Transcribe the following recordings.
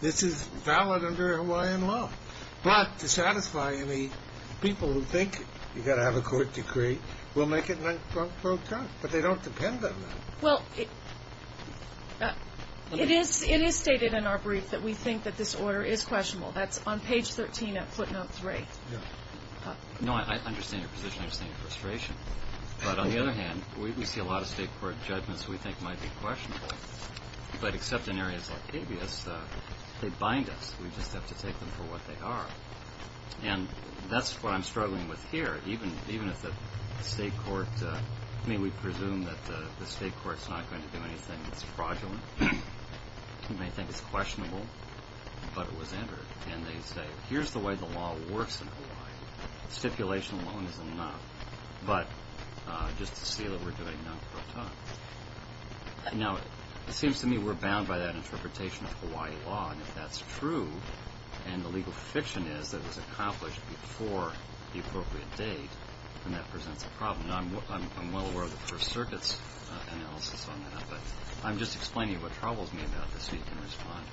This is valid under Hawaiian law. But to satisfy any people who think you've got to have a court decree, we'll make it non-pro-frontal. But they don't depend on that. Well, it is stated in our brief that we think that this order is questionable. That's on page 13 at footnote 3. No, I understand your position. I understand your frustration. But on the other hand, we see a lot of state court judgments we think might be questionable. But except in areas like habeas, they bind us. We just have to take them for what they are. And that's what I'm struggling with here. Even if the state court – I mean, we presume that the state court's not going to do anything that's fraudulent. You may think it's questionable, but it was entered. And they say, here's the way the law works in Hawaii. Stipulation alone is enough. But just to see that we're doing non-pro-frontal. Now, it seems to me we're bound by that interpretation of Hawaii law. And if that's true, and the legal fiction is that it was accomplished before the appropriate date, then that presents a problem. And I'm well aware of the First Circuit's analysis on that. But I'm just explaining what troubles me about this so you can respond.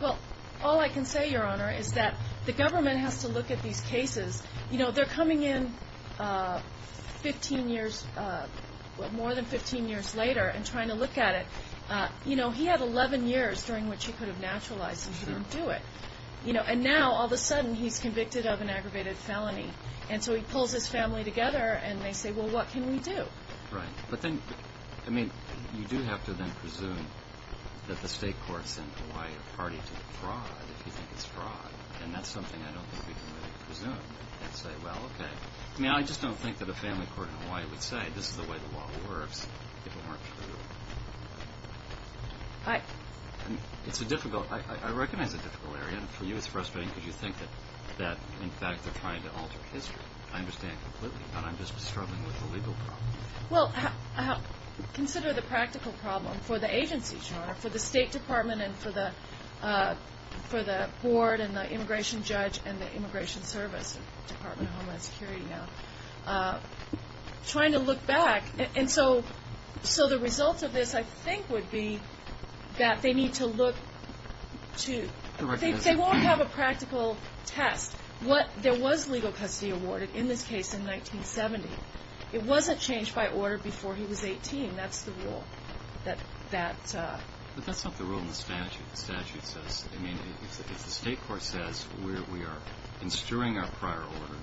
Well, all I can say, Your Honor, is that the government has to look at these cases. You know, they're coming in 15 years – more than 15 years later and trying to look at it. You know, he had 11 years during which he could have naturalized, and he didn't do it. And now, all of a sudden, he's convicted of an aggravated felony. And so he pulls his family together, and they say, well, what can we do? Right. But then – I mean, you do have to then presume that the state court sent Hawaii a party to the fraud, if you think it's fraud. And that's something I don't think we can really presume. I'd say, well, okay. I mean, I just don't think that a family court in Hawaii would say, this is the way the law works, if it weren't for the rule. It's a difficult – I recognize a difficult area. And for you, it's frustrating because you think that, in fact, they're trying to alter history. I understand completely, but I'm just struggling with the legal problem. Well, consider the practical problem for the agency, Your Honor, for the State Department and for the board and the immigration judge and the immigration service, Department of Homeland Security now, trying to look back. And so the results of this, I think, would be that they need to look to – they won't have a practical test. What – there was legal custody awarded in this case in 1970. It wasn't changed by order before he was 18. That's the rule that – But that's not the rule in the statute. I mean, if the state court says, we are instruing our prior order,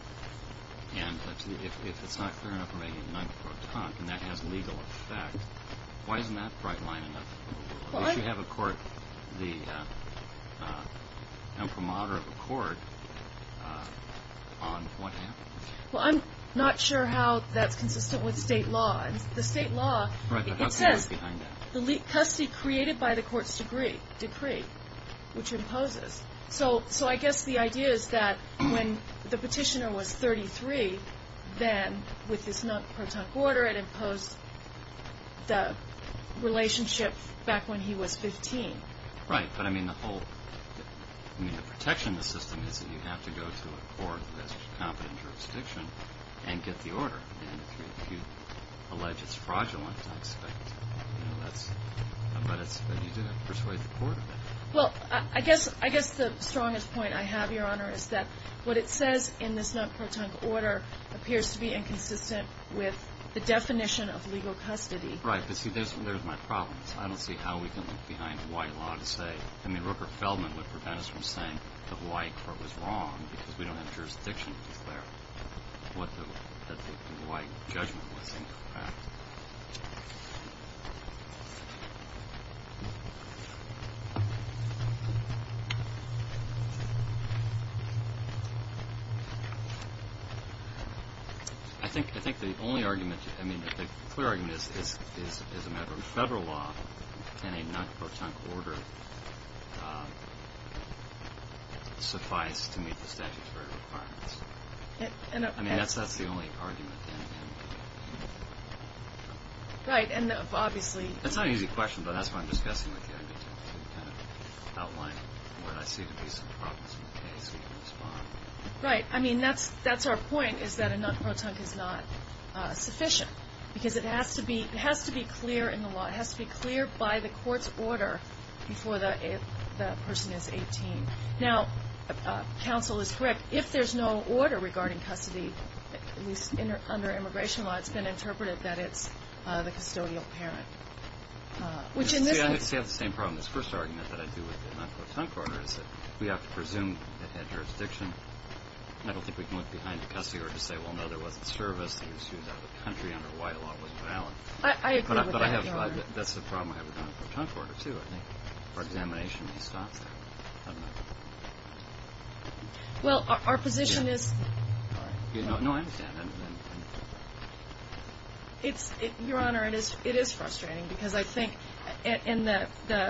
and if it's not clear enough, we're making a nine-to-four talk, and that has legal effect, why isn't that bright line enough? Well, I – You should have a court – an imprimatur of a court on what happened. Well, I'm not sure how that's consistent with state law. The state law, it says – Right, but how far is it behind that? The custody created by the court's decree, which imposes. So I guess the idea is that when the petitioner was 33, then with this non-protunct order, it imposed the relationship back when he was 15. Right, but I mean, the whole – I mean, the protection of the system is that you have to go to a court that's competent in jurisdiction and get the order. And if you allege it's fraudulent, I expect, you know, that's – but you do have to persuade the court of it. Well, I guess the strongest point I have, Your Honor, is that what it says in this non-protunct order appears to be inconsistent with the definition of legal custody. Right, but see, there's my problem. I don't see how we can look behind a white law to say – I mean, Rupert Feldman would prevent us from saying the Hawaii court was wrong because we don't have jurisdiction to declare what the – that the Hawaii judgment was incorrect. I think the only argument – I mean, the clear argument is, as a matter of federal law, can a non-protunct order suffice to meet the statutory requirements? I mean, that's the only argument. Right, and obviously – That's not an easy question, but that's what I'm discussing with you. I need to kind of outline what I see to be some problems in the case so you can respond. Right. I mean, that's our point, is that a non-protunct is not sufficient because it has to be – it has to be clear in the law. It has to be clear by the court's order before the person is 18. Now, counsel is correct. If there's no order regarding custody, at least under immigration law, it's been interpreted that it's the custodial parent, which in this case – See, I have the same problem. This first argument that I do with the non-protunct order is that we have to presume it had jurisdiction. I don't think we can look behind the custody order to say, well, no, there wasn't service. It was used out of the country under a white law. It wasn't valid. I agree with that, Your Honor. But I have – that's the problem I have with a non-protunct order, too. I think for examination, he stops there. I don't know. Well, our position is – No, I understand. Your Honor, it is frustrating because I think in the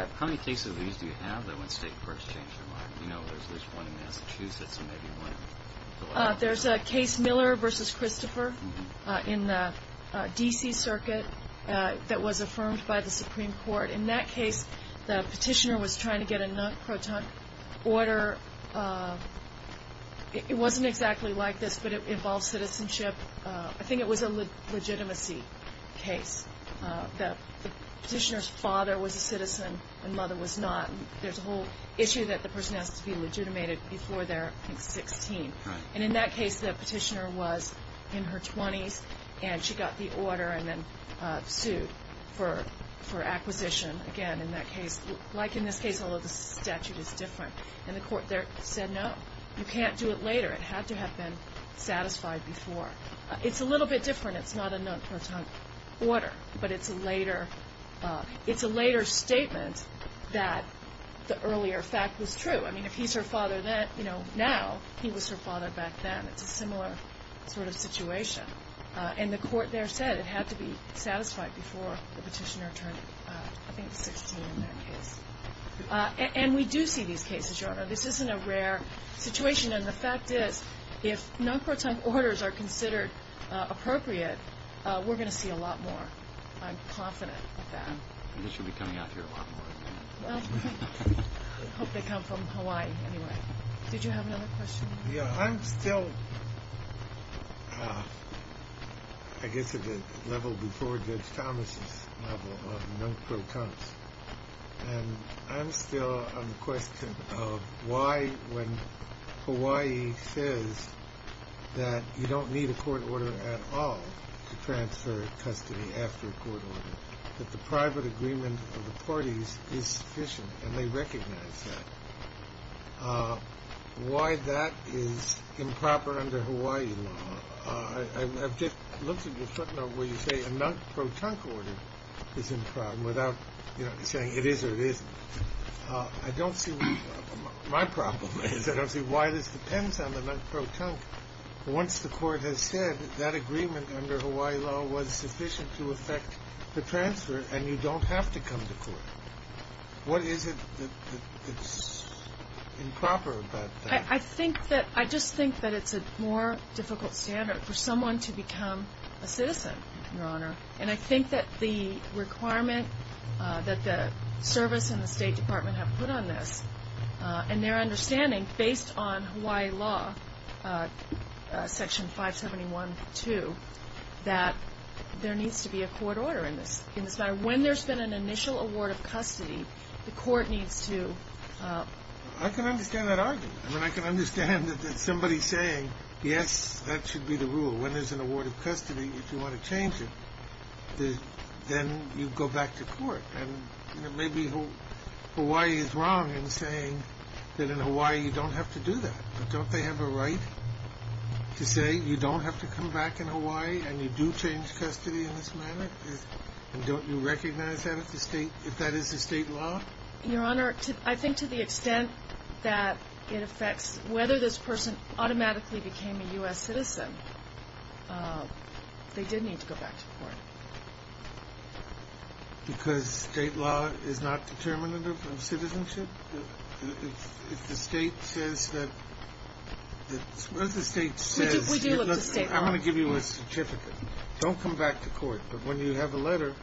– How many cases do you have that when State courts change their mind? You know, there's one in Massachusetts and maybe one in Philadelphia. There's a case Miller v. Christopher in the D.C. Circuit that was affirmed by the Supreme Court. In that case, the petitioner was trying to get a non-protunct order. It wasn't exactly like this, but it involved citizenship. I think it was a legitimacy case. The petitioner's father was a citizen and mother was not. There's a whole issue that the person has to be legitimated before they're 16. And in that case, the petitioner was in her 20s, and she got the order and then sued for acquisition. Again, in that case – like in this case, although the statute is different. And the court there said, no, you can't do it later. It had to have been satisfied before. It's a little bit different. It's not a non-protunct order, but it's a later – it's a later statement that the earlier fact was true. I mean, if he's her father now, he was her father back then. It's a similar sort of situation. And the court there said it had to be satisfied before the petitioner turned, I think, 16 in that case. And we do see these cases, Your Honor. This isn't a rare situation. And the fact is, if non-protunct orders are considered appropriate, we're going to see a lot more. I'm confident of that. I guess you'll be coming out here a lot more. I hope they come from Hawaii, anyway. Did you have another question? Yeah. I'm still, I guess, at the level before Judge Thomas' level of non-protuncts. And I'm still on the question of why, when Hawaii says that you don't need a court order at all to transfer custody after a court order, that the private agreement of the parties is sufficient and they recognize that, why that is improper under Hawaii law. I've looked at your footnote where you say a non-protunct order is improper without saying it is or it isn't. I don't see my problem. I don't see why this depends on the non-protunct. Once the court has said that agreement under Hawaii law was sufficient to affect the transfer and you don't have to come to court, what is it that's improper about that? I just think that it's a more difficult standard for someone to become a citizen, Your Honor. And I think that the requirement that the service and the State Department have put on this and their understanding, based on Hawaii law, Section 571.2, that there needs to be a court order in this matter. When there's been an initial award of custody, the court needs to... I can understand that argument. I mean, I can understand that somebody saying, yes, that should be the rule. When there's an award of custody, if you want to change it, then you go back to court. And maybe Hawaii is wrong in saying that in Hawaii you don't have to do that. But don't they have a right to say you don't have to come back in Hawaii and you do change custody in this matter? And don't you recognize that if that is the state law? Your Honor, I think to the extent that it affects whether this person automatically became a U.S. citizen, they did need to go back to court. Because state law is not determinative of citizenship? If the state says that... If the state says... We do look to state law. I'm going to give you a certificate. Don't come back to court. But when you have a letter,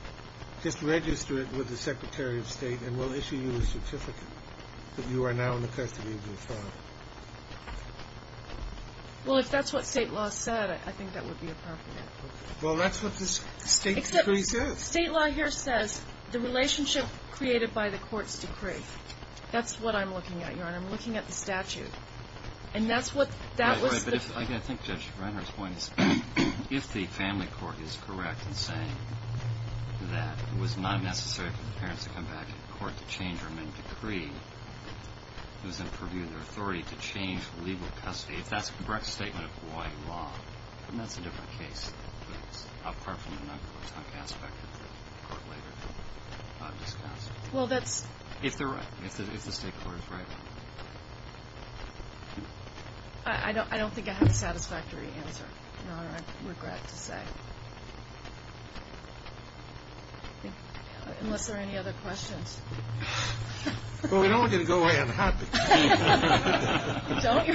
just register it with the Secretary of State and we'll issue you a certificate that you are now in the custody of your father. Well, if that's what state law said, I think that would be appropriate. Well, that's what the state decree says. State law here says the relationship created by the court's decree. That's what I'm looking at, Your Honor. I'm looking at the statute. And that's what... Right, but I think Judge Brenner's point is if the family court is correct in saying that it was not necessary for the parents to come back to court to change their main decree, it was in purview of their authority to change legal custody, if that's a correct statement of Hawaii law, then that's a different case, apart from the non-court aspect of the court later discussed. Well, that's... If they're right. If the state court is right. I don't think I have a satisfactory answer, Your Honor. I regret to say. Unless there are any other questions. Well, we don't want you to go away unhappy. Don't you?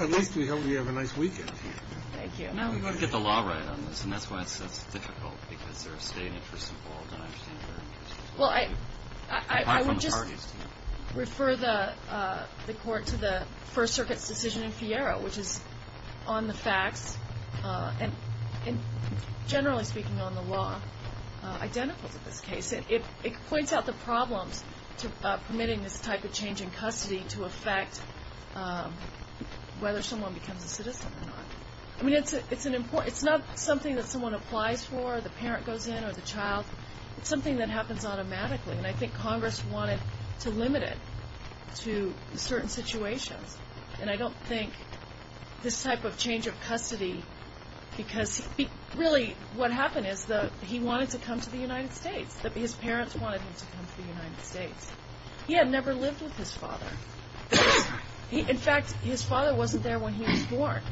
At least we hope you have a nice weekend. Thank you. We want to get the law right on this, and that's why it's so difficult, because there are state interests involved, and I understand that. Well, I would just refer the court to the First Circuit's decision in Fiero, which is on the facts, and generally speaking on the law, identical to this case. It points out the problems to permitting this type of change in custody to affect whether someone becomes a citizen or not. I mean, it's not something that someone applies for, the parent goes in or the child. It's something that happens automatically, and I think Congress wanted to limit it to certain situations, and I don't think this type of change of custody, because really what happened is that he wanted to come to the United States. His parents wanted him to come to the United States. He had never lived with his father. In fact, his father wasn't there when he was born.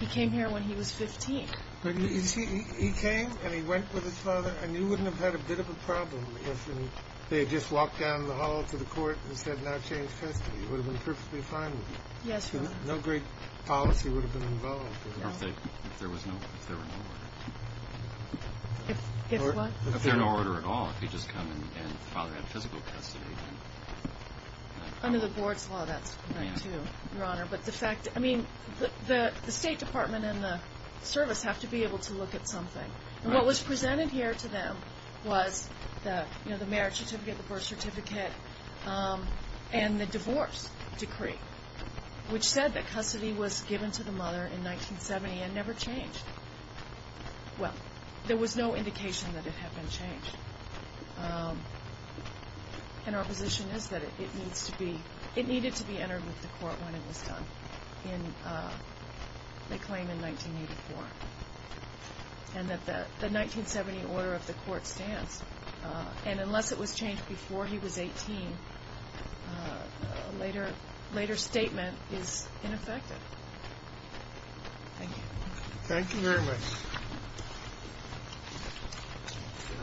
He came here when he was 15. But you see, he came and he went with his father, and you wouldn't have had a bit of a problem if they had just walked down the hall to the court and said now change custody. It would have been perfectly fine with you. Yes, Your Honor. No great policy would have been involved. If there were no order. If what? If there were no order at all, if he'd just come and the father had physical custody. Under the board's law, that's correct, too, Your Honor. But the fact, I mean, the State Department and the service have to be able to look at something. And what was presented here to them was the marriage certificate, the birth certificate, and the divorce decree, which said that custody was given to the mother in 1970 and never changed. Well, there was no indication that it had been changed. And our position is that it needs to be, it needed to be entered with the court when it was done, in the claim in 1984, and that the 1970 order of the court stands. And unless it was changed before he was 18, a later statement is ineffective. Thank you. Thank you very much. Can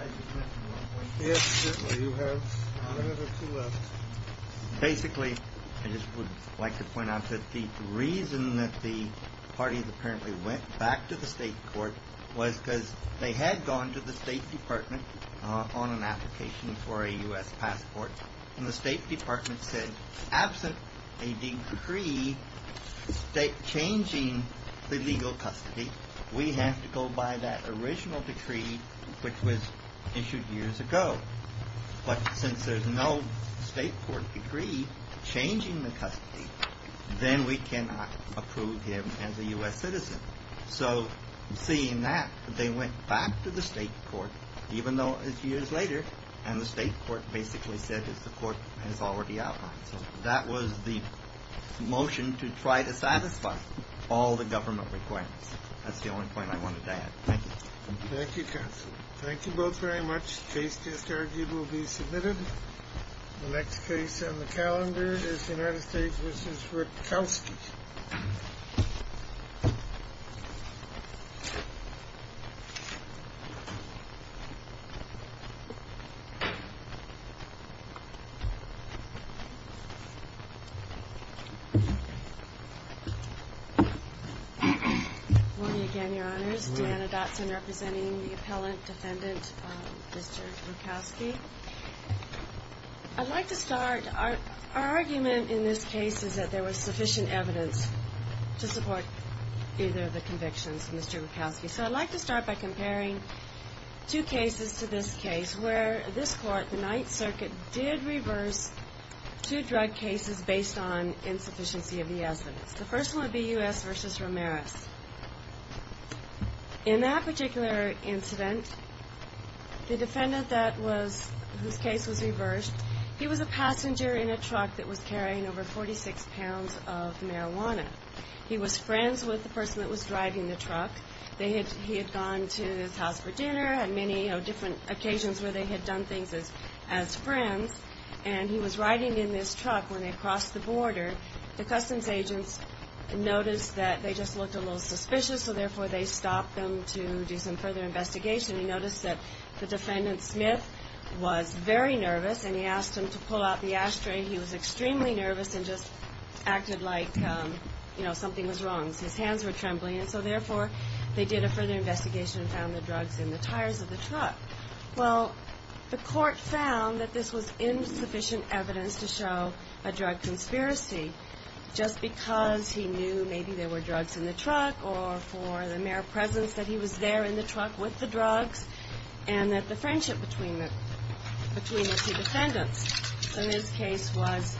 I just make one point? Yes, certainly. You have one minute or two left. Basically, I just would like to point out that the reason that the parties apparently went back to the State Court was because they had gone to the State Department on an application for a U.S. passport, and the State Department said, absent a decree changing the legal custody, we have to go by that original decree which was issued years ago. But since there's no State Court decree changing the custody, then we cannot approve him as a U.S. citizen. So seeing that, they went back to the State Court, even though it's years later, and the State Court basically said that the court has already outlined. So that was the motion to try to satisfy all the government requirements. That's the only point I wanted to add. Thank you. Thank you, counsel. The case just argued will be submitted. The next case on the calendar is the United States v. Rutkowski. Good morning again, Your Honors. Good morning. Donna Dotson representing the appellant defendant, Mr. Rutkowski. I'd like to start. Our argument in this case is that there was sufficient evidence to support either of the convictions, Mr. Rutkowski. So I'd like to start by comparing two cases to this case where this court, the Ninth Circuit, did reverse two drug cases based on insufficiency of the evidence. The first one would be U.S. v. Ramirez. In that particular incident, the defendant whose case was reversed, he was a passenger in a truck that was carrying over 46 pounds of marijuana. He was friends with the person that was driving the truck. He had gone to his house for dinner, had many different occasions where they had done things as friends, and he was riding in this truck when they crossed the border. The customs agents noticed that they just looked a little suspicious, so therefore they stopped them to do some further investigation. They noticed that the defendant, Smith, was very nervous, and he asked them to pull out the ashtray. He was extremely nervous and just acted like something was wrong. His hands were trembling, and so therefore they did a further investigation and found the drugs in the tires of the truck. Well, the court found that this was insufficient evidence to show a drug conspiracy just because he knew maybe there were drugs in the truck or for the mere presence that he was there in the truck with the drugs and that the friendship between the two defendants in this case was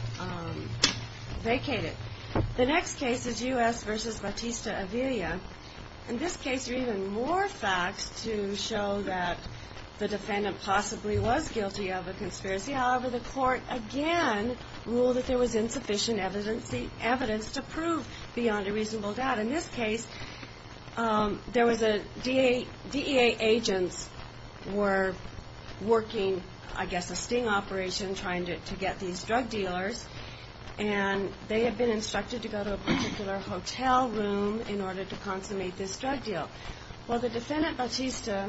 vacated. The next case is U.S. v. Batista-Avilla. In this case, there are even more facts to show that the defendant possibly was guilty of a conspiracy. However, the court again ruled that there was insufficient evidence to prove beyond a reasonable doubt. In this case, DEA agents were working, I guess, a sting operation trying to get these drug dealers, and they had been instructed to go to a particular hotel room in order to consummate this drug deal. Well, the defendant, Batista,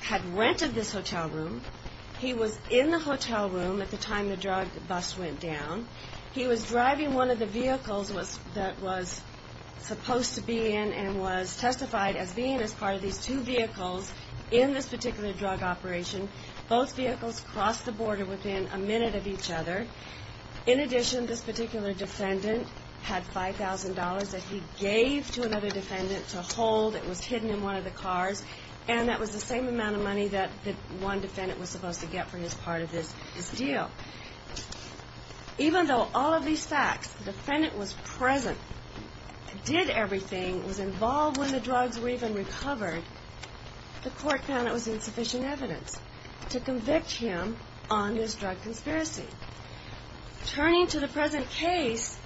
had rented this hotel room. He was in the hotel room at the time the drug bust went down. He was driving one of the vehicles that was supposed to be in and was testified as being as part of these two vehicles in this particular drug operation. Both vehicles crossed the border within a minute of each other. In addition, this particular defendant had $5,000 that he gave to another defendant to hold. It was hidden in one of the cars, and that was the same amount of money that one defendant was supposed to get for his part of this deal. Even though all of these facts, the defendant was present, did everything, was involved when the drugs were even recovered, the court found it was insufficient evidence to convict him on this drug conspiracy. Turning to the present case,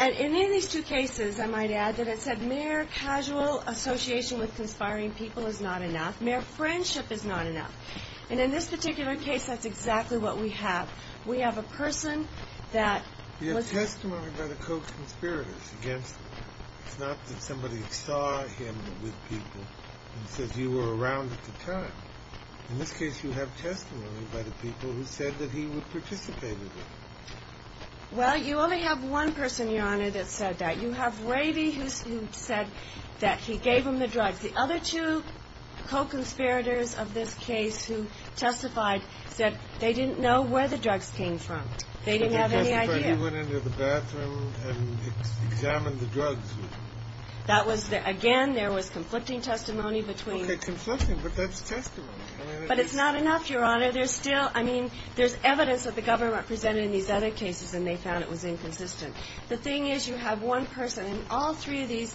in any of these two cases, I might add, that it said mere casual association with conspiring people is not enough. Mere friendship is not enough. And in this particular case, that's exactly what we have. We have a person that was... It's not that somebody saw him with people and said, you were around at the time. In this case, you have testimony by the people who said that he would participate in it. Well, you only have one person, Your Honor, that said that. You have Ravy, who said that he gave him the drugs. The other two co-conspirators of this case who testified said they didn't know where the drugs came from. They didn't have any idea. He went into the bathroom and examined the drugs. That was the... Again, there was conflicting testimony between... Okay, conflicting, but that's testimony. But it's not enough, Your Honor. There's still... I mean, there's evidence that the government presented in these other cases, and they found it was inconsistent. The thing is, you have one person, and all three of these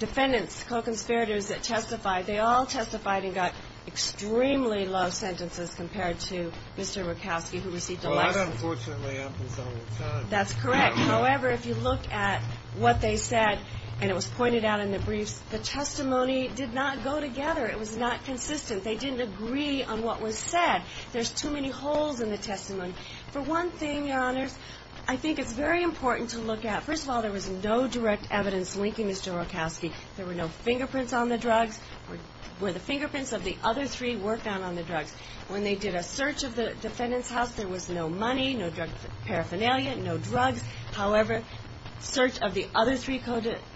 defendants, co-conspirators that testified, they all testified and got extremely low sentences compared to Mr. Murkowski, who received a lesson. That unfortunately happens all the time. That's correct. However, if you look at what they said, and it was pointed out in the briefs, the testimony did not go together. It was not consistent. They didn't agree on what was said. There's too many holes in the testimony. For one thing, Your Honors, I think it's very important to look at... First of all, there was no direct evidence linking Mr. Murkowski. Were the fingerprints of the other three worked on on the drugs? When they did a search of the defendant's house, there was no money, no drug paraphernalia, no drugs. However, search of the other three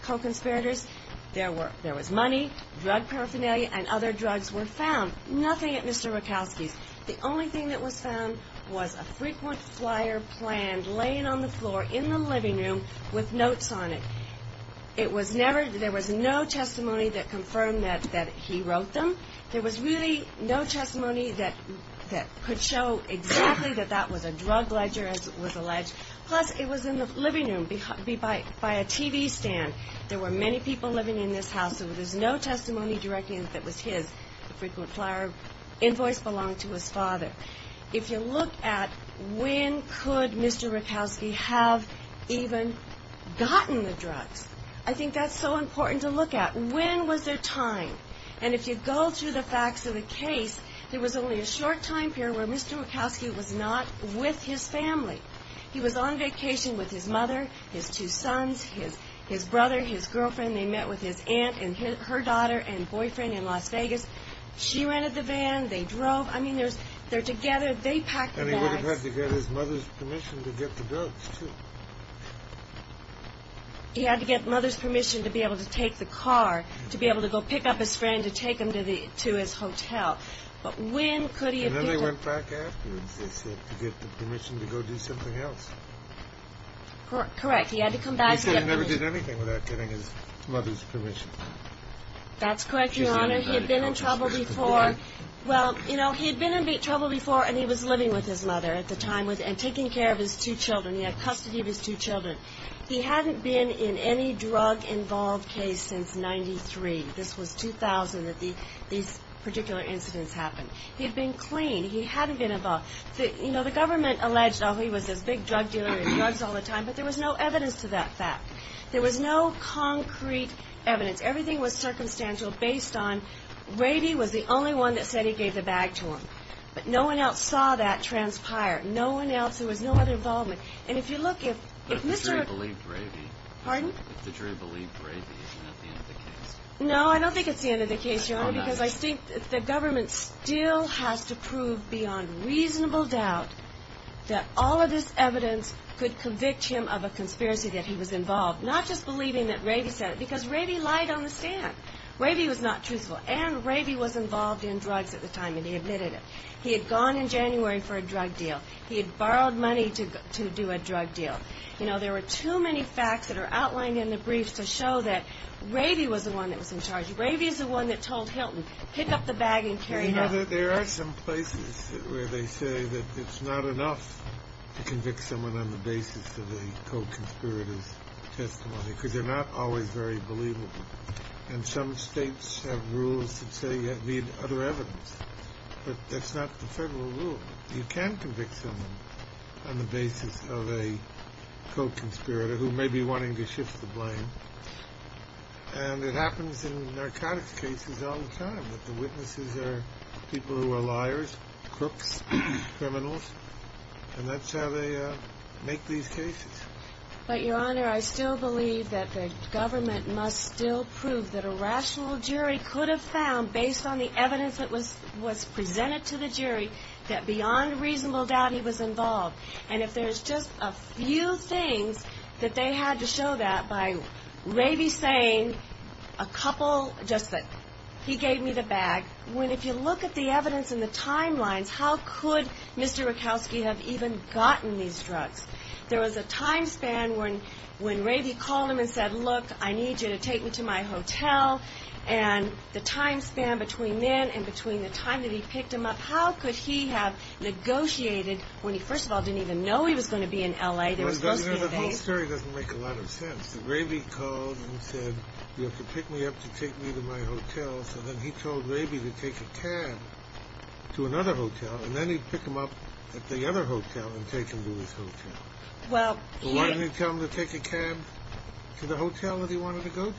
co-conspirators, there was money, drug paraphernalia, and other drugs were found. Nothing at Mr. Murkowski's. The only thing that was found was a frequent flyer planned, laying on the floor in the living room with notes on it. It was never... There was no testimony that confirmed that he wrote them. There was really no testimony that could show exactly that that was a drug ledger, as was alleged. Plus, it was in the living room by a TV stand. There were many people living in this house, so there's no testimony directing that it was his. The frequent flyer invoice belonged to his father. If you look at when could Mr. Murkowski have even gotten the drugs, I think that's so important to look at. When was their time? And if you go through the facts of the case, there was only a short time period where Mr. Murkowski was not with his family. He was on vacation with his mother, his two sons, his brother, his girlfriend. They met with his aunt and her daughter and boyfriend in Las Vegas. She rented the van. They drove. I mean, they're together. They packed the bags. And he would have had to get his mother's permission to get the drugs, too. He had to get mother's permission to be able to take the car, to be able to go pick up his friend, to take him to his hotel. But when could he have been? And then they went back afterwards, they said, to get the permission to go do something else. Correct. He had to come back. He said he never did anything without getting his mother's permission. That's correct, Your Honor. He had been in trouble before. Well, you know, he had been in trouble before, and he was living with his mother at the time, and taking care of his two children. He had custody of his two children. He hadn't been in any drug-involved case since 1993. This was 2000 that these particular incidents happened. He had been clean. He hadn't been involved. You know, the government alleged, oh, he was this big drug dealer and drugs all the time, but there was no evidence to that fact. There was no concrete evidence. Everything was circumstantial based on, Rady was the only one that said he gave the bag to him. But no one else saw that transpire. No one else. There was no other involvement. But if the jury believed Rady, isn't that the end of the case? No, I don't think it's the end of the case, Your Honor, because I think the government still has to prove beyond reasonable doubt that all of this evidence could convict him of a conspiracy that he was involved. Not just believing that Rady said it, because Rady lied on the stand. Rady was not truthful, and Rady was involved in drugs at the time, and he admitted it. He had gone in January for a drug deal. He had borrowed money to do a drug deal. You know, there were too many facts that are outlined in the briefs to show that Rady was the one that was in charge. Rady is the one that told Hilton, pick up the bag and carry it out. You know, there are some places where they say that it's not enough to convict someone on the basis of a co-conspirator's testimony, because they're not always very believable. And some states have rules that say you need other evidence, but that's not the federal rule. You can convict someone on the basis of a co-conspirator who may be wanting to shift the blame, and it happens in narcotics cases all the time, that the witnesses are people who are liars, crooks, criminals, and that's how they make these cases. But, Your Honor, I still believe that the government must still prove that a rational jury could have found, based on the evidence that was presented to the jury, that beyond reasonable doubt he was involved. And if there's just a few things that they had to show that by Rady saying a couple, just that he gave me the bag, when if you look at the evidence and the timelines, how could Mr. Rakowski have even gotten these drugs? There was a time span when Rady called him and said, look, I need you to take me to my hotel, and the time span between then and between the time that he picked him up, how could he have negotiated when he, first of all, didn't even know he was going to be in L.A.? The whole story doesn't make a lot of sense. Rady called and said, you have to pick me up to take me to my hotel, so then he told Rady to take a cab to another hotel, and then he'd pick him up at the other hotel and take him to his hotel. Why didn't he tell him to take a cab to the hotel that he wanted to go to? So he took a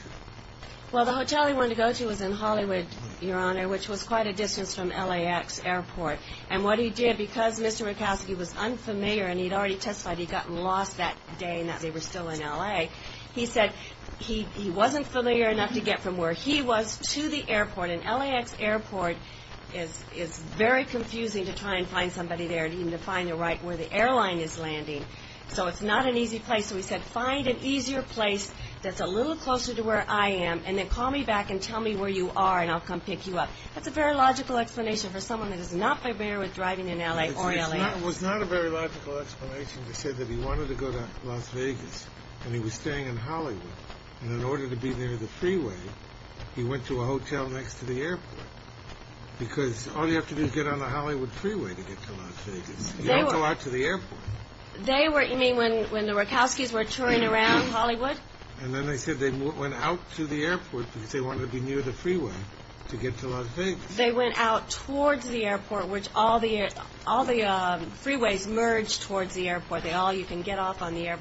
cab there, which was quite a distance from L.A.X. Airport, and what he did, because Mr. Rakowski was unfamiliar and he'd already testified he'd gotten lost that day and that they were still in L.A., he said he wasn't familiar enough to get from where he was to the airport, and L.A.X. Airport is very confusing to try and find somebody there and even to find the right where the airline is landing, so it's not an easy place. So he said, find an easier place that's a little closer to where I am, and then call me back and tell me where you are and I'll come pick you up. That's a very logical explanation for someone that is not familiar with driving in L.A. or L.A. It was not a very logical explanation to say that he wanted to go to Las Vegas and he was staying in Hollywood, and in order to be near the freeway, he went to a hotel next to the airport, because all you have to do is get on the Hollywood freeway to get to Las Vegas. You don't go out to the airport. You mean when the Rakowskis were touring around Hollywood? And then they said they went out to the airport because they wanted to be near the freeway to get to Las Vegas. They went out towards the airport, which all the freeways merge towards the airport. You can get off on the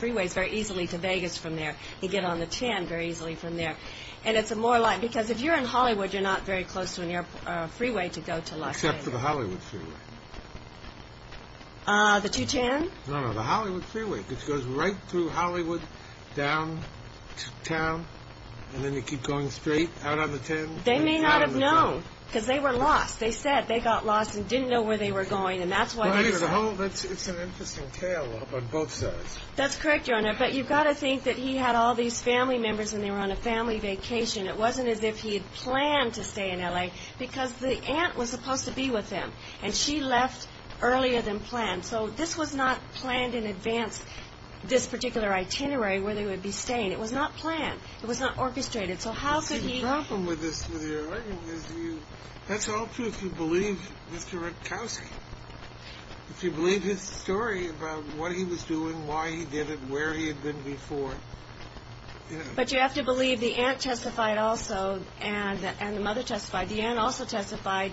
freeways very easily to Vegas from there. You get on the TEN very easily from there. And it's more like, because if you're in Hollywood, you're not very close to a freeway to go to Las Vegas. Except for the Hollywood freeway. The 210? No, no, the Hollywood freeway. It goes right through Hollywood, down to town, and then you keep going straight out on the TEN. They may not have known, because they were lost. They said they got lost and didn't know where they were going, and that's why they were there. It's an interesting tale on both sides. That's correct, Your Honor. But you've got to think that he had all these family members and they were on a family vacation. It wasn't as if he had planned to stay in L.A. because the aunt was supposed to be with him, and she left earlier than planned. So this was not planned in advance, this particular itinerary, where they would be staying. It was not planned. It was not orchestrated. So how could he... See, the problem with this, with your argument, is that's all true if you believe Mr. Rutkowski. If you believe his story about what he was doing, why he did it, where he had been before. But you have to believe the aunt testified also, and the mother testified. The aunt also testified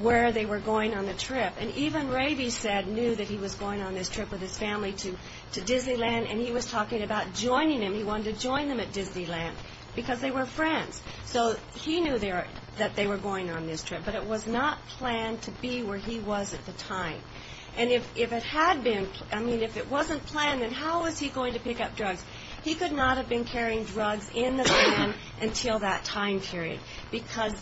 where they were going on the trip. And even Raby knew that he was going on this trip with his family to Disneyland, and he was talking about joining them. He wanted to join them at Disneyland because they were friends. So he knew that they were going on this trip, but it was not planned to be where he was at the time. And if it had been, I mean, if it wasn't planned, then how was he going to pick up drugs? He could not have been carrying drugs in the van until that time period because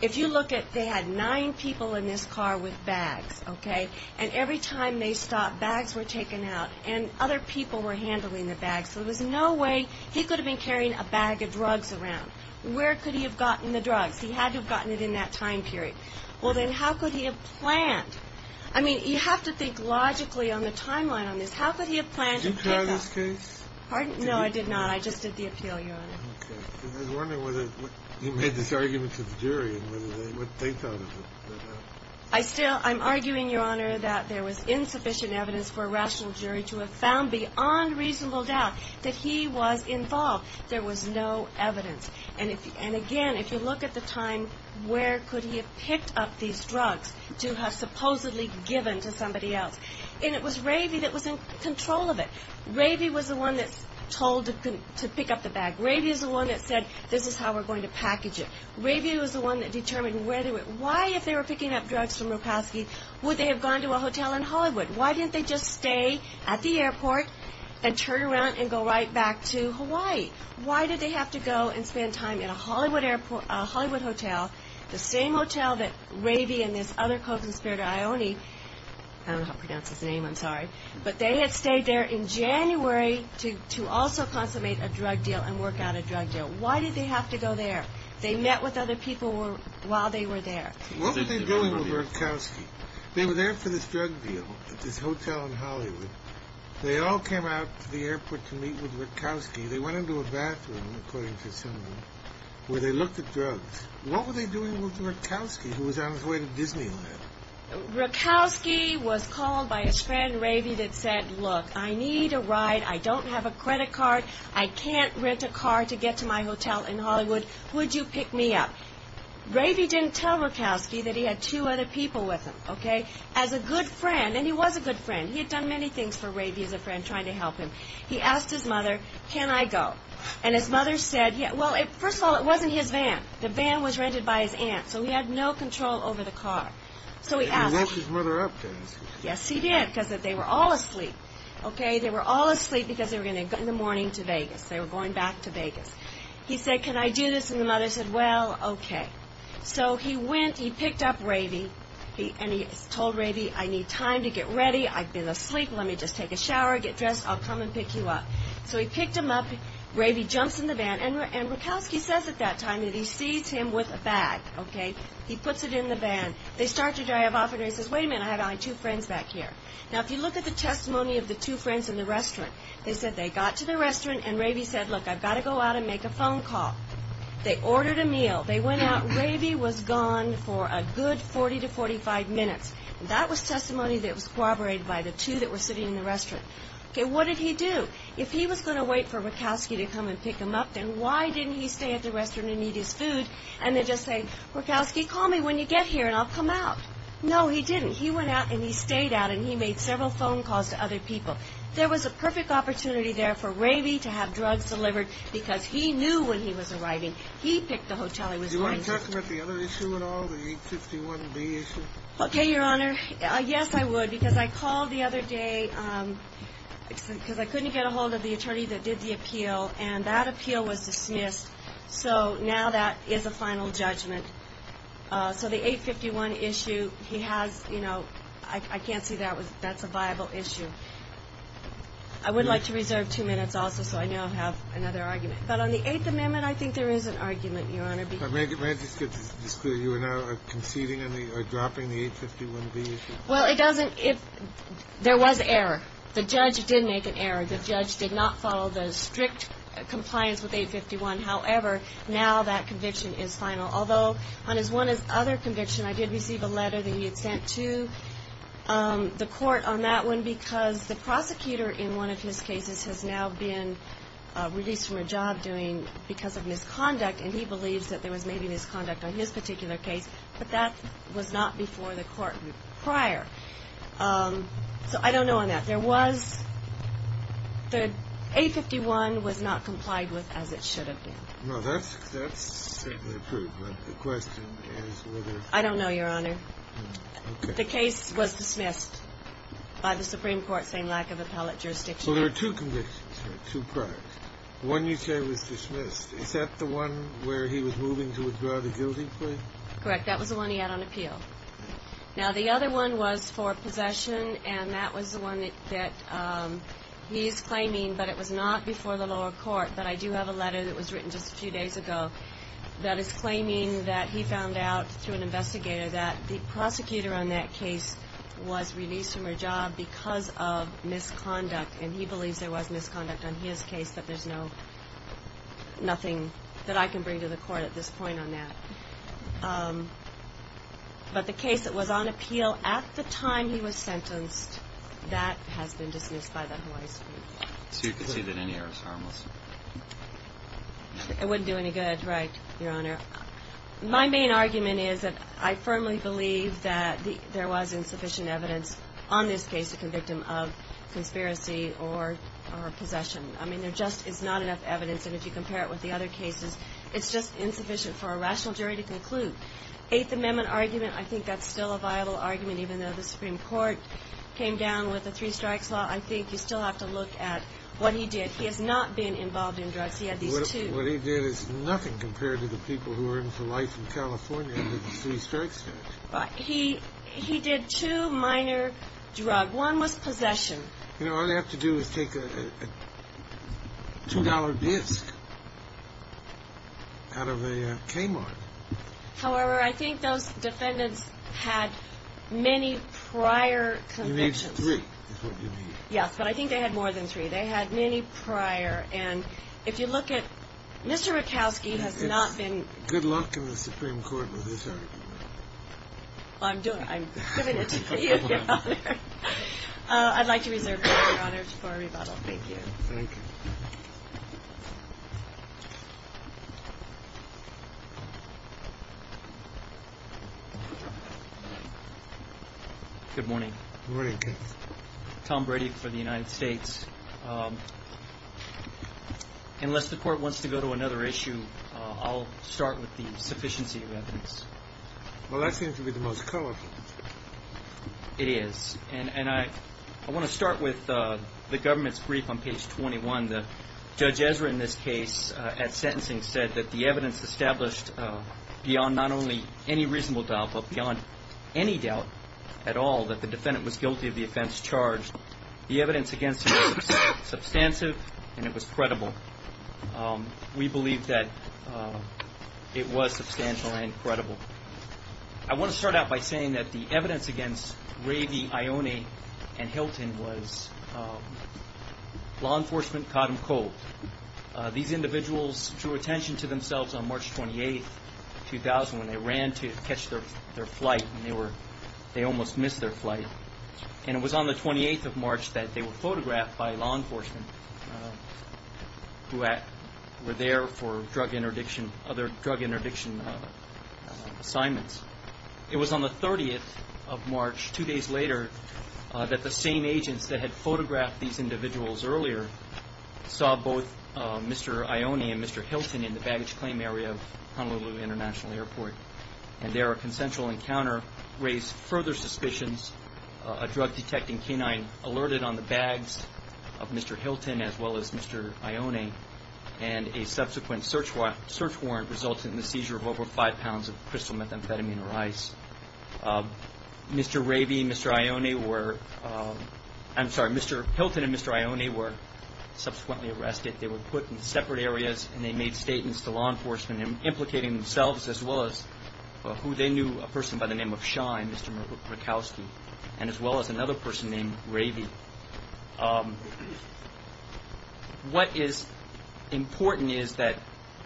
if you look at, they had nine people in this car with bags, okay? And every time they stopped, bags were taken out, and other people were handling the bags. So there was no way he could have been carrying a bag of drugs around. Where could he have gotten the drugs? He had to have gotten it in that time period. Well, then how could he have planned? I mean, you have to think logically on the timeline on this. How could he have planned to pick up? Did you try this case? Pardon? No, I did not. I just did the appeal, Your Honor. Okay. I was wondering whether you made this argument to the jury and what they thought of it. I still, I'm arguing, Your Honor, that there was insufficient evidence for a rational jury to have found beyond reasonable doubt that he was involved. There was no evidence. And again, if you look at the time, where could he have picked up these drugs to have supposedly given to somebody else? And it was Ravy that was in control of it. Ravy was the one that was told to pick up the bag. Ravy was the one that said, this is how we're going to package it. Ravy was the one that determined where to go. Why, if they were picking up drugs from Ropowski, would they have gone to a hotel in Hollywood? Why didn't they just stay at the airport and turn around and go right back to Hawaii? Why did they have to go and spend time in a Hollywood hotel, the same hotel that Ravy and this other co-conspirator, Ione, but they had stayed there in January to also consummate a drug deal and work out a drug deal. Why did they have to go there? They met with other people while they were there. What were they doing with Ropowski? They were there for this drug deal at this hotel in Hollywood. They all came out to the airport to meet with Ropowski. They went into a bathroom, according to someone, where they looked at drugs. What were they doing with Ropowski, who was on his way to Disneyland? Ropowski was called by his friend, Ravy, that said, Look, I need a ride. I don't have a credit card. I can't rent a car to get to my hotel in Hollywood. Would you pick me up? Ravy didn't tell Ropowski that he had two other people with him, okay? As a good friend, and he was a good friend. He had done many things for Ravy as a friend, trying to help him. He asked his mother, Can I go? And his mother said, Well, first of all, it wasn't his van. The van was rented by his aunt, so he had no control over the car. He woke his mother up, didn't he? Yes, he did, because they were all asleep. They were all asleep because they were going to go in the morning to Vegas. They were going back to Vegas. He said, Can I do this? And the mother said, Well, okay. So he went, he picked up Ravy, and he told Ravy, I need time to get ready. I've been asleep. Let me just take a shower, get dressed. I'll come and pick you up. So he picked him up. Ravy jumps in the van, and Rakowski says at that time that he sees him with a bag, okay? He puts it in the van. They start to drive off, and he says, Wait a minute. I have only two friends back here. Now, if you look at the testimony of the two friends in the restaurant, they said they got to the restaurant, and Ravy said, Look, I've got to go out and make a phone call. They ordered a meal. They went out. Ravy was gone for a good 40 to 45 minutes. That was testimony that was corroborated by the two that were sitting in the restaurant. Okay, what did he do? If he was going to wait for Rakowski to come and pick him up, then why didn't he stay at the restaurant and eat his food, and then just say, Rakowski, call me when you get here, and I'll come out? No, he didn't. He went out, and he stayed out, and he made several phone calls to other people. There was a perfect opportunity there for Ravy to have drugs delivered because he knew when he was arriving. He picked the hotel he was going to. Did you want to talk about the other issue at all, the 851B issue? Okay, Your Honor. Yes, I would, because I called the other day because I couldn't get a hold of the attorney that did the appeal, and that appeal was dismissed. So now that is a final judgment. So the 851 issue, he has, you know, I can't say that's a viable issue. I would like to reserve two minutes also, so I now have another argument. But on the Eighth Amendment, I think there is an argument, Your Honor. May I just get this clear? You are now conceding or dropping the 851B issue? Well, it doesn't – there was error. The judge did make an error. The judge did not follow the strict compliance with 851. However, now that conviction is final. Although on his other conviction, I did receive a letter that he had sent to the court on that one because the prosecutor in one of his cases has now been released from a job that he was doing because of misconduct, and he believes that there was maybe misconduct on his particular case, but that was not before the court prior. So I don't know on that. There was – the 851 was not complied with as it should have been. No, that's certainly approved, but the question is whether – I don't know, Your Honor. Okay. The case was dismissed by the Supreme Court saying lack of appellate jurisdiction. Well, there are two convictions here, two prior. One you say was dismissed. Is that the one where he was moving to withdraw the guilty plea? Correct. That was the one he had on appeal. Now, the other one was for possession, and that was the one that he is claiming, but it was not before the lower court, but I do have a letter that was written just a few days ago that is claiming that he found out through an investigator that the prosecutor on that case was released from her job because of misconduct, and he believes there was misconduct on his case, but there's nothing that I can bring to the court at this point on that. But the case that was on appeal at the time he was sentenced, that has been dismissed by the Hawaii Supreme Court. So you concede that any error is harmless? It wouldn't do any good, right, Your Honor. My main argument is that I firmly believe that there was insufficient evidence on this case to convict him of conspiracy or possession. I mean, there just is not enough evidence, and if you compare it with the other cases, it's just insufficient for a rational jury to conclude. Eighth Amendment argument, I think that's still a viable argument, even though the Supreme Court came down with the three-strikes law. I think you still have to look at what he did. He has not been involved in drugs. He had these two. What he did is nothing compared to the people who were in for life in California under the three-strikes law. He did two minor drugs. One was possession. You know, all they have to do is take a $2 disc out of a K-Mart. However, I think those defendants had many prior convictions. You need three, is what you mean. Yes, but I think they had more than three. They had many prior, and if you look at Mr. Rakowski has not been... Well, I'm doing it. I'm giving it to you, Your Honor. I'd like to reserve it, Your Honor, for rebuttal. Thank you. Thank you. Good morning. Good morning. Tom Brady for the United States. Unless the Court wants to go to another issue, I'll start with the sufficiency of evidence. Well, that seems to be the most colorful. It is. And I want to start with the government's brief on page 21. Judge Ezra in this case at sentencing said that the evidence established beyond not only any reasonable doubt but beyond any doubt at all that the defendant was guilty of the offense charged, the evidence against him was substantive and it was credible. We believe that it was substantial and credible. I want to start out by saying that the evidence against Ravy, Ione, and Hilton was law enforcement caught them cold. These individuals drew attention to themselves on March 28, 2000, when they ran to catch their flight and they almost missed their flight. And it was on the 28th of March that they were photographed by law enforcement who were there for other drug interdiction assignments. It was on the 30th of March, two days later, that the same agents that had photographed these individuals earlier saw both Mr. Ione and Mr. Hilton in the baggage claim area of Honolulu International Airport, and their consensual encounter raised further suspicions. A drug-detecting canine alerted on the bags of Mr. Hilton as well as Mr. Ione, and a subsequent search warrant resulted in the seizure of over five pounds of crystal methamphetamine or ice. Mr. Ravy and Mr. Ione were, I'm sorry, Mr. Hilton and Mr. Ione were subsequently arrested. They were put in separate areas and they made statements to law enforcement, implicating themselves as well as who they knew, a person by the name of Shine, Mr. Murkowski, and as well as another person named Ravy. What is important is that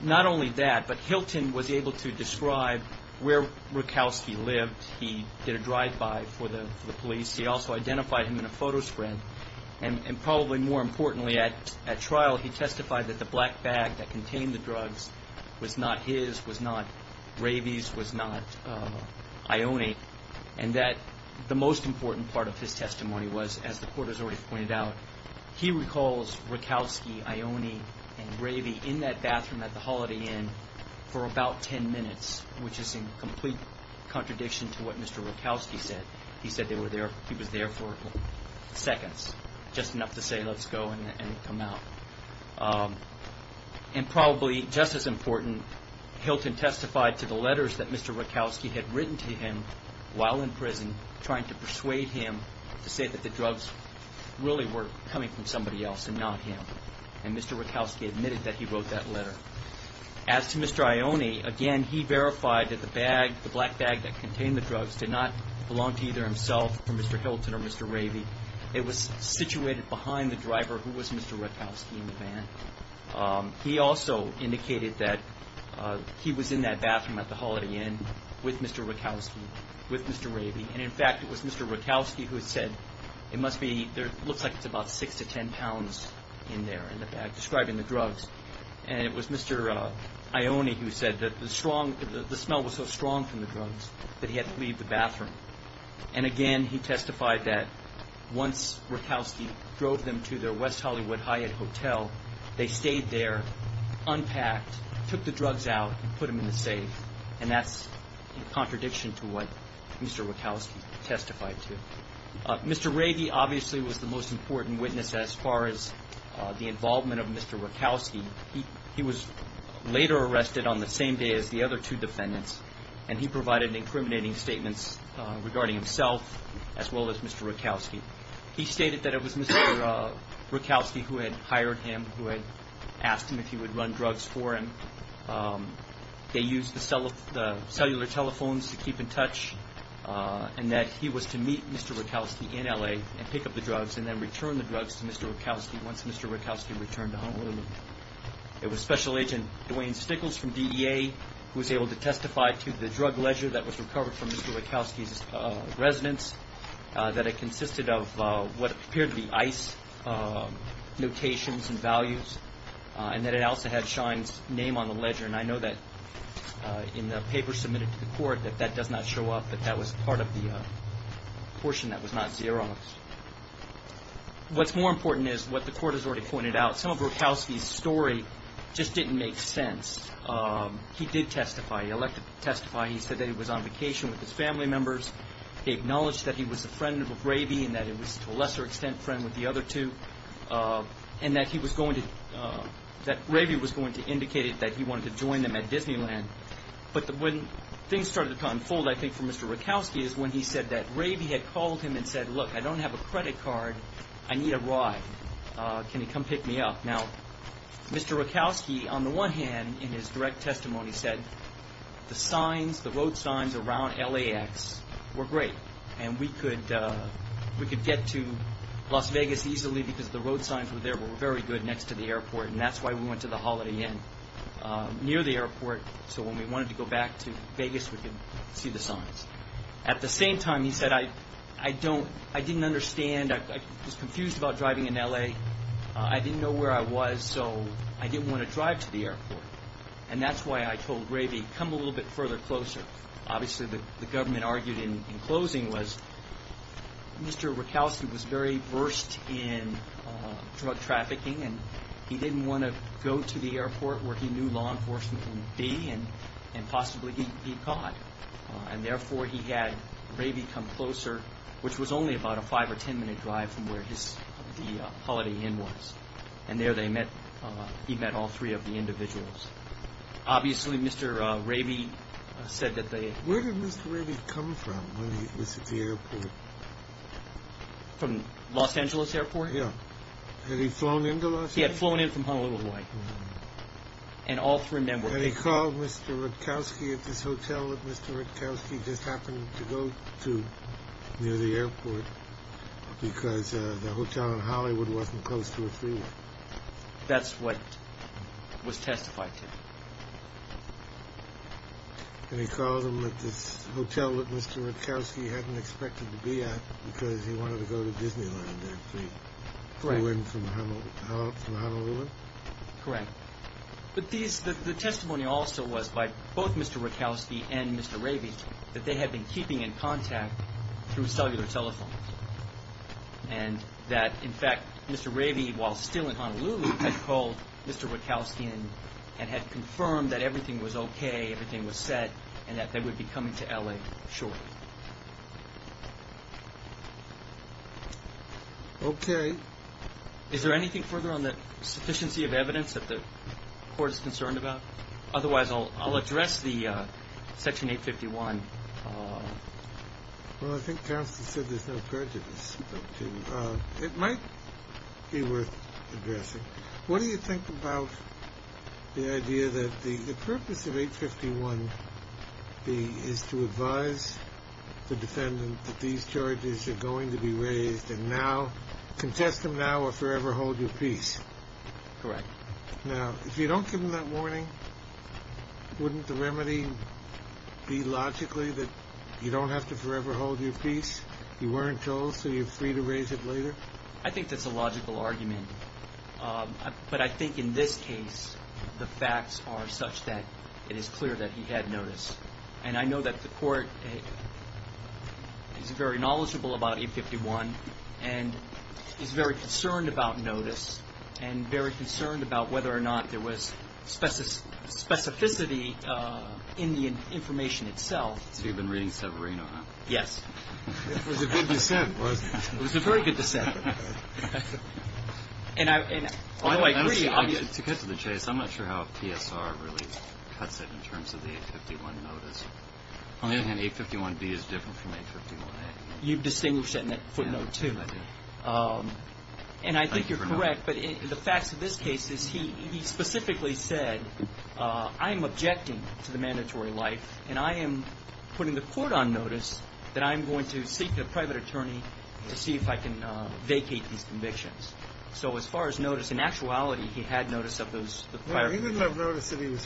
not only that, but Hilton was able to describe where Murkowski lived. He did a drive-by for the police. He also identified him in a photo spread. And probably more importantly, at trial he testified that the black bag that contained the drugs was not his, was not Ravy's, was not Ione, and that the most important part of his testimony was, as the court has already pointed out, he recalls Murkowski, Ione, and Ravy in that bathroom at the Holiday Inn for about ten minutes, which is in complete contradiction to what Mr. Murkowski said. He said he was there for seconds, just enough to say, let's go and come out. And probably just as important, Hilton testified to the letters that Mr. Murkowski had written to him while in prison, trying to persuade him to say that the drugs really were coming from somebody else and not him. And Mr. Murkowski admitted that he wrote that letter. As to Mr. Ione, again, he verified that the bag, the black bag that contained the drugs, did not belong to either himself or Mr. Hilton or Mr. Ravy. It was situated behind the driver who was Mr. Murkowski in the van. He also indicated that he was in that bathroom at the Holiday Inn with Mr. Murkowski, with Mr. Ravy. And in fact, it was Mr. Murkowski who said, it must be, it looks like it's about six to ten pounds in there, in the bag, describing the drugs. And it was Mr. Ione who said that the smell was so strong from the drugs that he had to leave the bathroom. And again, he testified that once Murkowski drove them to their West Hollywood Hyatt Hotel, they stayed there, unpacked, took the drugs out, and put them in the safe. And that's in contradiction to what Mr. Murkowski testified to. Mr. Ravy obviously was the most important witness as far as the involvement of Mr. Murkowski. He was later arrested on the same day as the other two defendants, and he provided incriminating statements regarding himself as well as Mr. Murkowski. He stated that it was Mr. Murkowski who had hired him, who had asked him if he would run drugs for him. They used the cellular telephones to keep in touch, and that he was to meet Mr. Murkowski in L.A. and pick up the drugs, and then return the drugs to Mr. Murkowski once Mr. Murkowski returned to Honolulu. It was Special Agent Dwayne Stickles from DEA who was able to testify to the drug ledger that was recovered from Mr. Murkowski's residence, that it consisted of what appeared to be ice notations and values, and that it also had Shine's name on the ledger. And I know that in the paper submitted to the court that that does not show up, but that was part of the portion that was not zero. What's more important is what the court has already pointed out. Some of Murkowski's story just didn't make sense. He did testify. He elected to testify. He said that he was on vacation with his family members. He acknowledged that he was a friend of Ravy and that he was to a lesser extent a friend with the other two, and that Ravy was going to indicate that he wanted to join them at Disneyland. But when things started to unfold, I think, for Mr. Murkowski, is when he said that Ravy had called him and said, Look, I don't have a credit card. I need a ride. Can you come pick me up? Now, Mr. Murkowski, on the one hand, in his direct testimony, said, The signs, the road signs around LAX were great, and we could get to Las Vegas easily because the road signs were there were very good next to the airport, and that's why we went to the Holiday Inn near the airport, so when we wanted to go back to Vegas, we could see the signs. At the same time, he said, I didn't understand. I was confused about driving in LA. I didn't know where I was, so I didn't want to drive to the airport, and that's why I told Ravy, Come a little bit further closer. Obviously, the government argued in closing was Mr. Murkowski was very versed in drug trafficking, and he didn't want to go to the airport where he knew law enforcement would be and possibly be caught, and therefore, he had Ravy come closer, which was only about a five- or ten-minute drive from where the Holiday Inn was, and there he met all three of the individuals. Obviously, Mr. Ravy said that they... Where did Mr. Ravy come from when he was at the airport? From Los Angeles Airport? Yeah. Had he flown into Los Angeles? He had flown in from Honolulu, Hawaii, and all three of them were... Had he called Mr. Murkowski at this hotel that Mr. Murkowski just happened to go to near the airport because the hotel in Hollywood wasn't close to a freeway? That's what was testified to. And he called him at this hotel that Mr. Murkowski hadn't expected to be at because he wanted to go to Disneyland after he flew in from Honolulu? Correct. But the testimony also was by both Mr. Murkowski and Mr. Ravy that they had been keeping in contact through cellular telephone and that, in fact, Mr. Ravy, while still in Honolulu, had called Mr. Murkowski and had confirmed that everything was okay, everything was set, and that they would be coming to L.A. shortly. Okay. Is there anything further on the sufficiency of evidence that the Court is concerned about? Otherwise, I'll address the Section 851. Well, I think Counselor said there's no prejudice. It might be worth addressing. What do you think about the idea that the purpose of 851B is to advise the defendant that these charges are going to be raised and now, contest them now or forever hold your peace? Correct. Now, if you don't give him that warning, wouldn't the remedy be logically that you don't have to forever hold your peace? You weren't told, so you're free to raise it later? I think that's a logical argument. But I think in this case, the facts are such that it is clear that he had notice. And I know that the Court is very knowledgeable about 851 and is very concerned about notice and very concerned about whether or not there was specificity in the information itself. So you've been reading Severino, huh? Yes. It was a good dissent, wasn't it? It was a very good dissent. And I agree. To cut to the chase, I'm not sure how TSR really cuts it in terms of the 851 notice. On the other hand, 851B is different from 851A. You've distinguished that in that footnote, too. And I think you're correct, but the facts of this case is he specifically said, I'm objecting to the mandatory life, and I am putting the Court on notice that I'm going to seek a private attorney to see if I can vacate these convictions. So as far as notice, in actuality, he had notice of those. This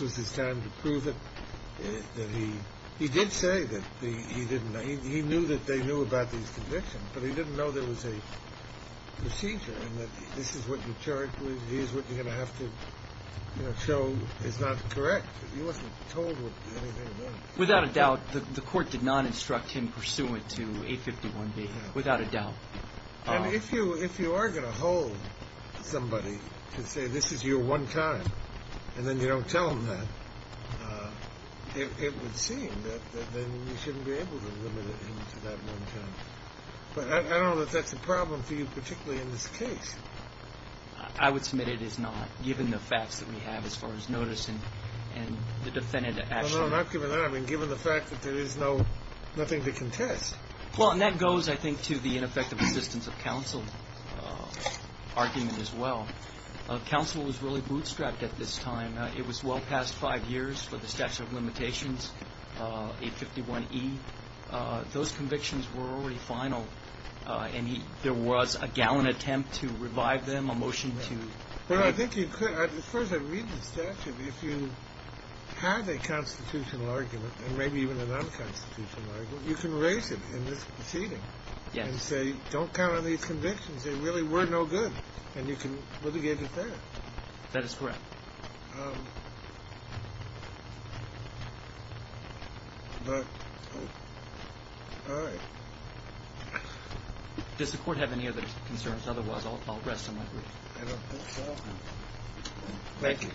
was his time to prove it. He did say that he knew that they knew about these convictions, but he didn't know there was a procedure and that this is what you're going to have to show is not correct. He wasn't told what anything was. Without a doubt, the Court did not instruct him pursuant to 851B, without a doubt. And if you are going to hold somebody to say this is your one time and then you don't tell them that, it would seem that then you shouldn't be able to limit him to that one time. But I don't know that that's a problem for you, particularly in this case. I would submit it is not, given the facts that we have as far as notice and the defendant actually. No, no, not given that. I mean, given the fact that there is nothing to contest. Well, and that goes, I think, to the ineffective assistance of counsel argument as well. Counsel was really bootstrapped at this time. It was well past five years for the statute of limitations, 851E. Those convictions were already final, and there was a gallant attempt to revive them, a motion to... Well, I think you could. First, I read the statute. If you have a constitutional argument, and maybe even a non-constitutional argument, you can raise it in this proceeding. Yes. And say, don't count on these convictions. They really were no good. And you can litigate it there. That is correct. Does the Court have any other concerns? Otherwise, I'll rest on my feet. I don't think so. Thank you.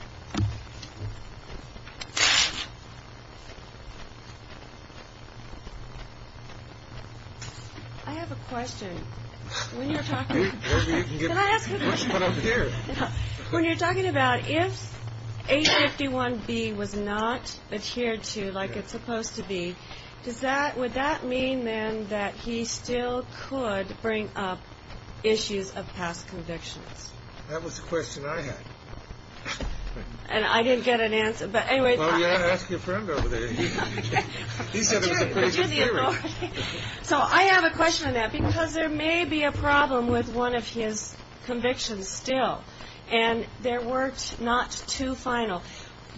I have a question. When you're talking... Can I ask a question? When you're talking about if 851B was not adhered to like it's supposed to be, does that... would that mean, then, that he still could bring up issues of past convictions? That was the question I had. And I didn't get an answer. But anyway... Well, you ought to ask your friend over there. He said it was a case of theory. So I have a question on that, because there may be a problem with one of his convictions still. And there were not two final.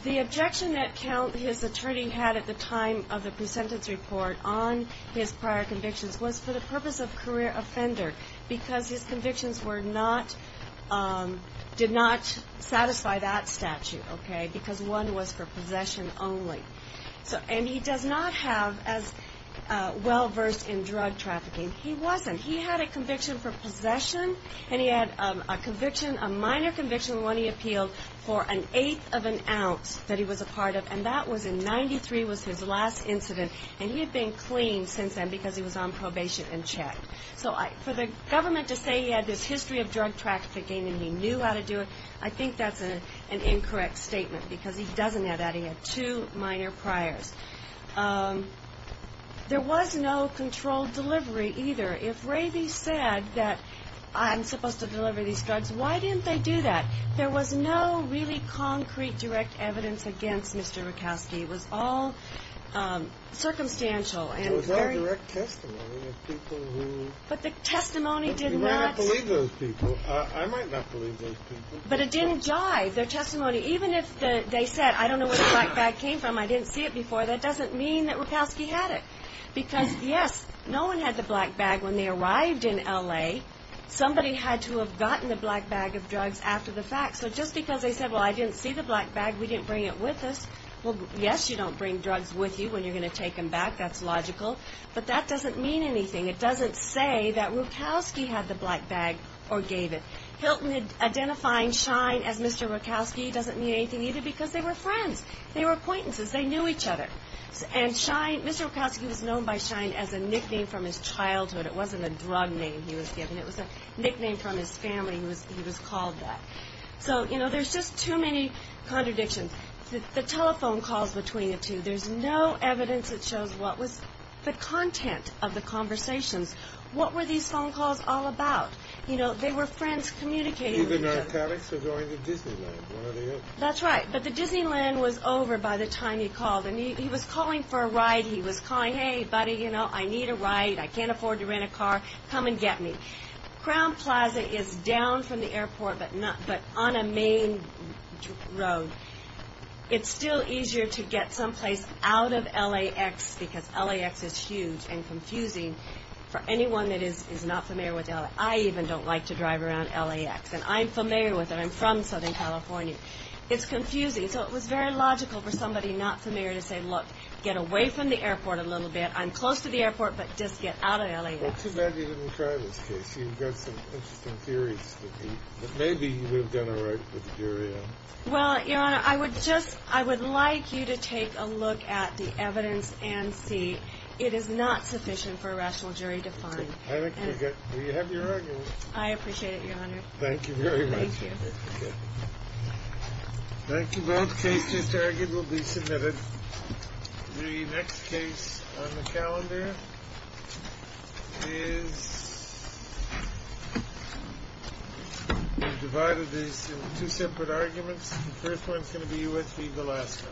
The objection that his attorney had at the time of the presentence report on his prior convictions was for the purpose of career offender, because his convictions did not satisfy that statute, okay, because one was for possession only. And he does not have as well versed in drug trafficking. He wasn't. He had a conviction for possession, and he had a conviction, a minor conviction, one he appealed for an eighth of an ounce that he was a part of, and that was in... 93 was his last incident. And he had been clean since then because he was on probation and checked. So for the government to say he had this history of drug trafficking and he knew how to do it, I think that's an incorrect statement because he doesn't have that. He had two minor priors. There was no controlled delivery either. If Ravy said that I'm supposed to deliver these drugs, why didn't they do that? There was no really concrete direct evidence against Mr. Rakowski. It was all circumstantial. It was all direct testimony of people who... But the testimony did not... You might not believe those people. I might not believe those people. But it didn't jive, their testimony. Even if they said, I don't know where the black bag came from, I didn't see it before, that doesn't mean that Rakowski had it because, yes, no one had the black bag when they arrived in L.A. Somebody had to have gotten the black bag of drugs after the fact. So just because they said, well, I didn't see the black bag, we didn't bring it with us, well, yes, you don't bring drugs with you when you're going to take them back. That's logical. But that doesn't mean anything. It doesn't say that Rakowski had the black bag or gave it. Hilton identifying Shine as Mr. Rakowski doesn't mean anything either because they were friends. They were acquaintances. They knew each other. And Shine... Mr. Rakowski was known by Shine as a nickname from his childhood. It wasn't a drug name he was given. It was a nickname from his family. He was called that. So, you know, there's just too many contradictions. The telephone calls between the two. There's no evidence that shows what was the content of the conversations. What were these phone calls all about? You know, they were friends communicating with each other. Either narcotics or going to Disneyland, one or the other. That's right. But the Disneyland was over by the time he called. And he was calling for a ride. He was calling, hey, buddy, you know, I need a ride. I can't afford to rent a car. Come and get me. Crown Plaza is down from the airport but on a main road. It's still easier to get someplace out of LAX because LAX is huge and confusing for anyone that is not familiar with LAX. I even don't like to drive around LAX. And I'm familiar with it. I'm from Southern California. It's confusing. So it was very logical for somebody not familiar to say, look, get away from the airport a little bit. I'm close to the airport, but just get out of LAX. Well, too bad you didn't try this case. You've got some interesting theories. But maybe you would have done all right with the jury. Well, Your Honor, I would like you to take a look at the evidence and see. It is not sufficient for a rational jury to find. I think we have your argument. I appreciate it, Your Honor. Thank you very much. Thank you. Thank you. Both cases argued will be submitted. The next case on the calendar is divided into two separate arguments. The first one is going to be U.S. v. Velasco.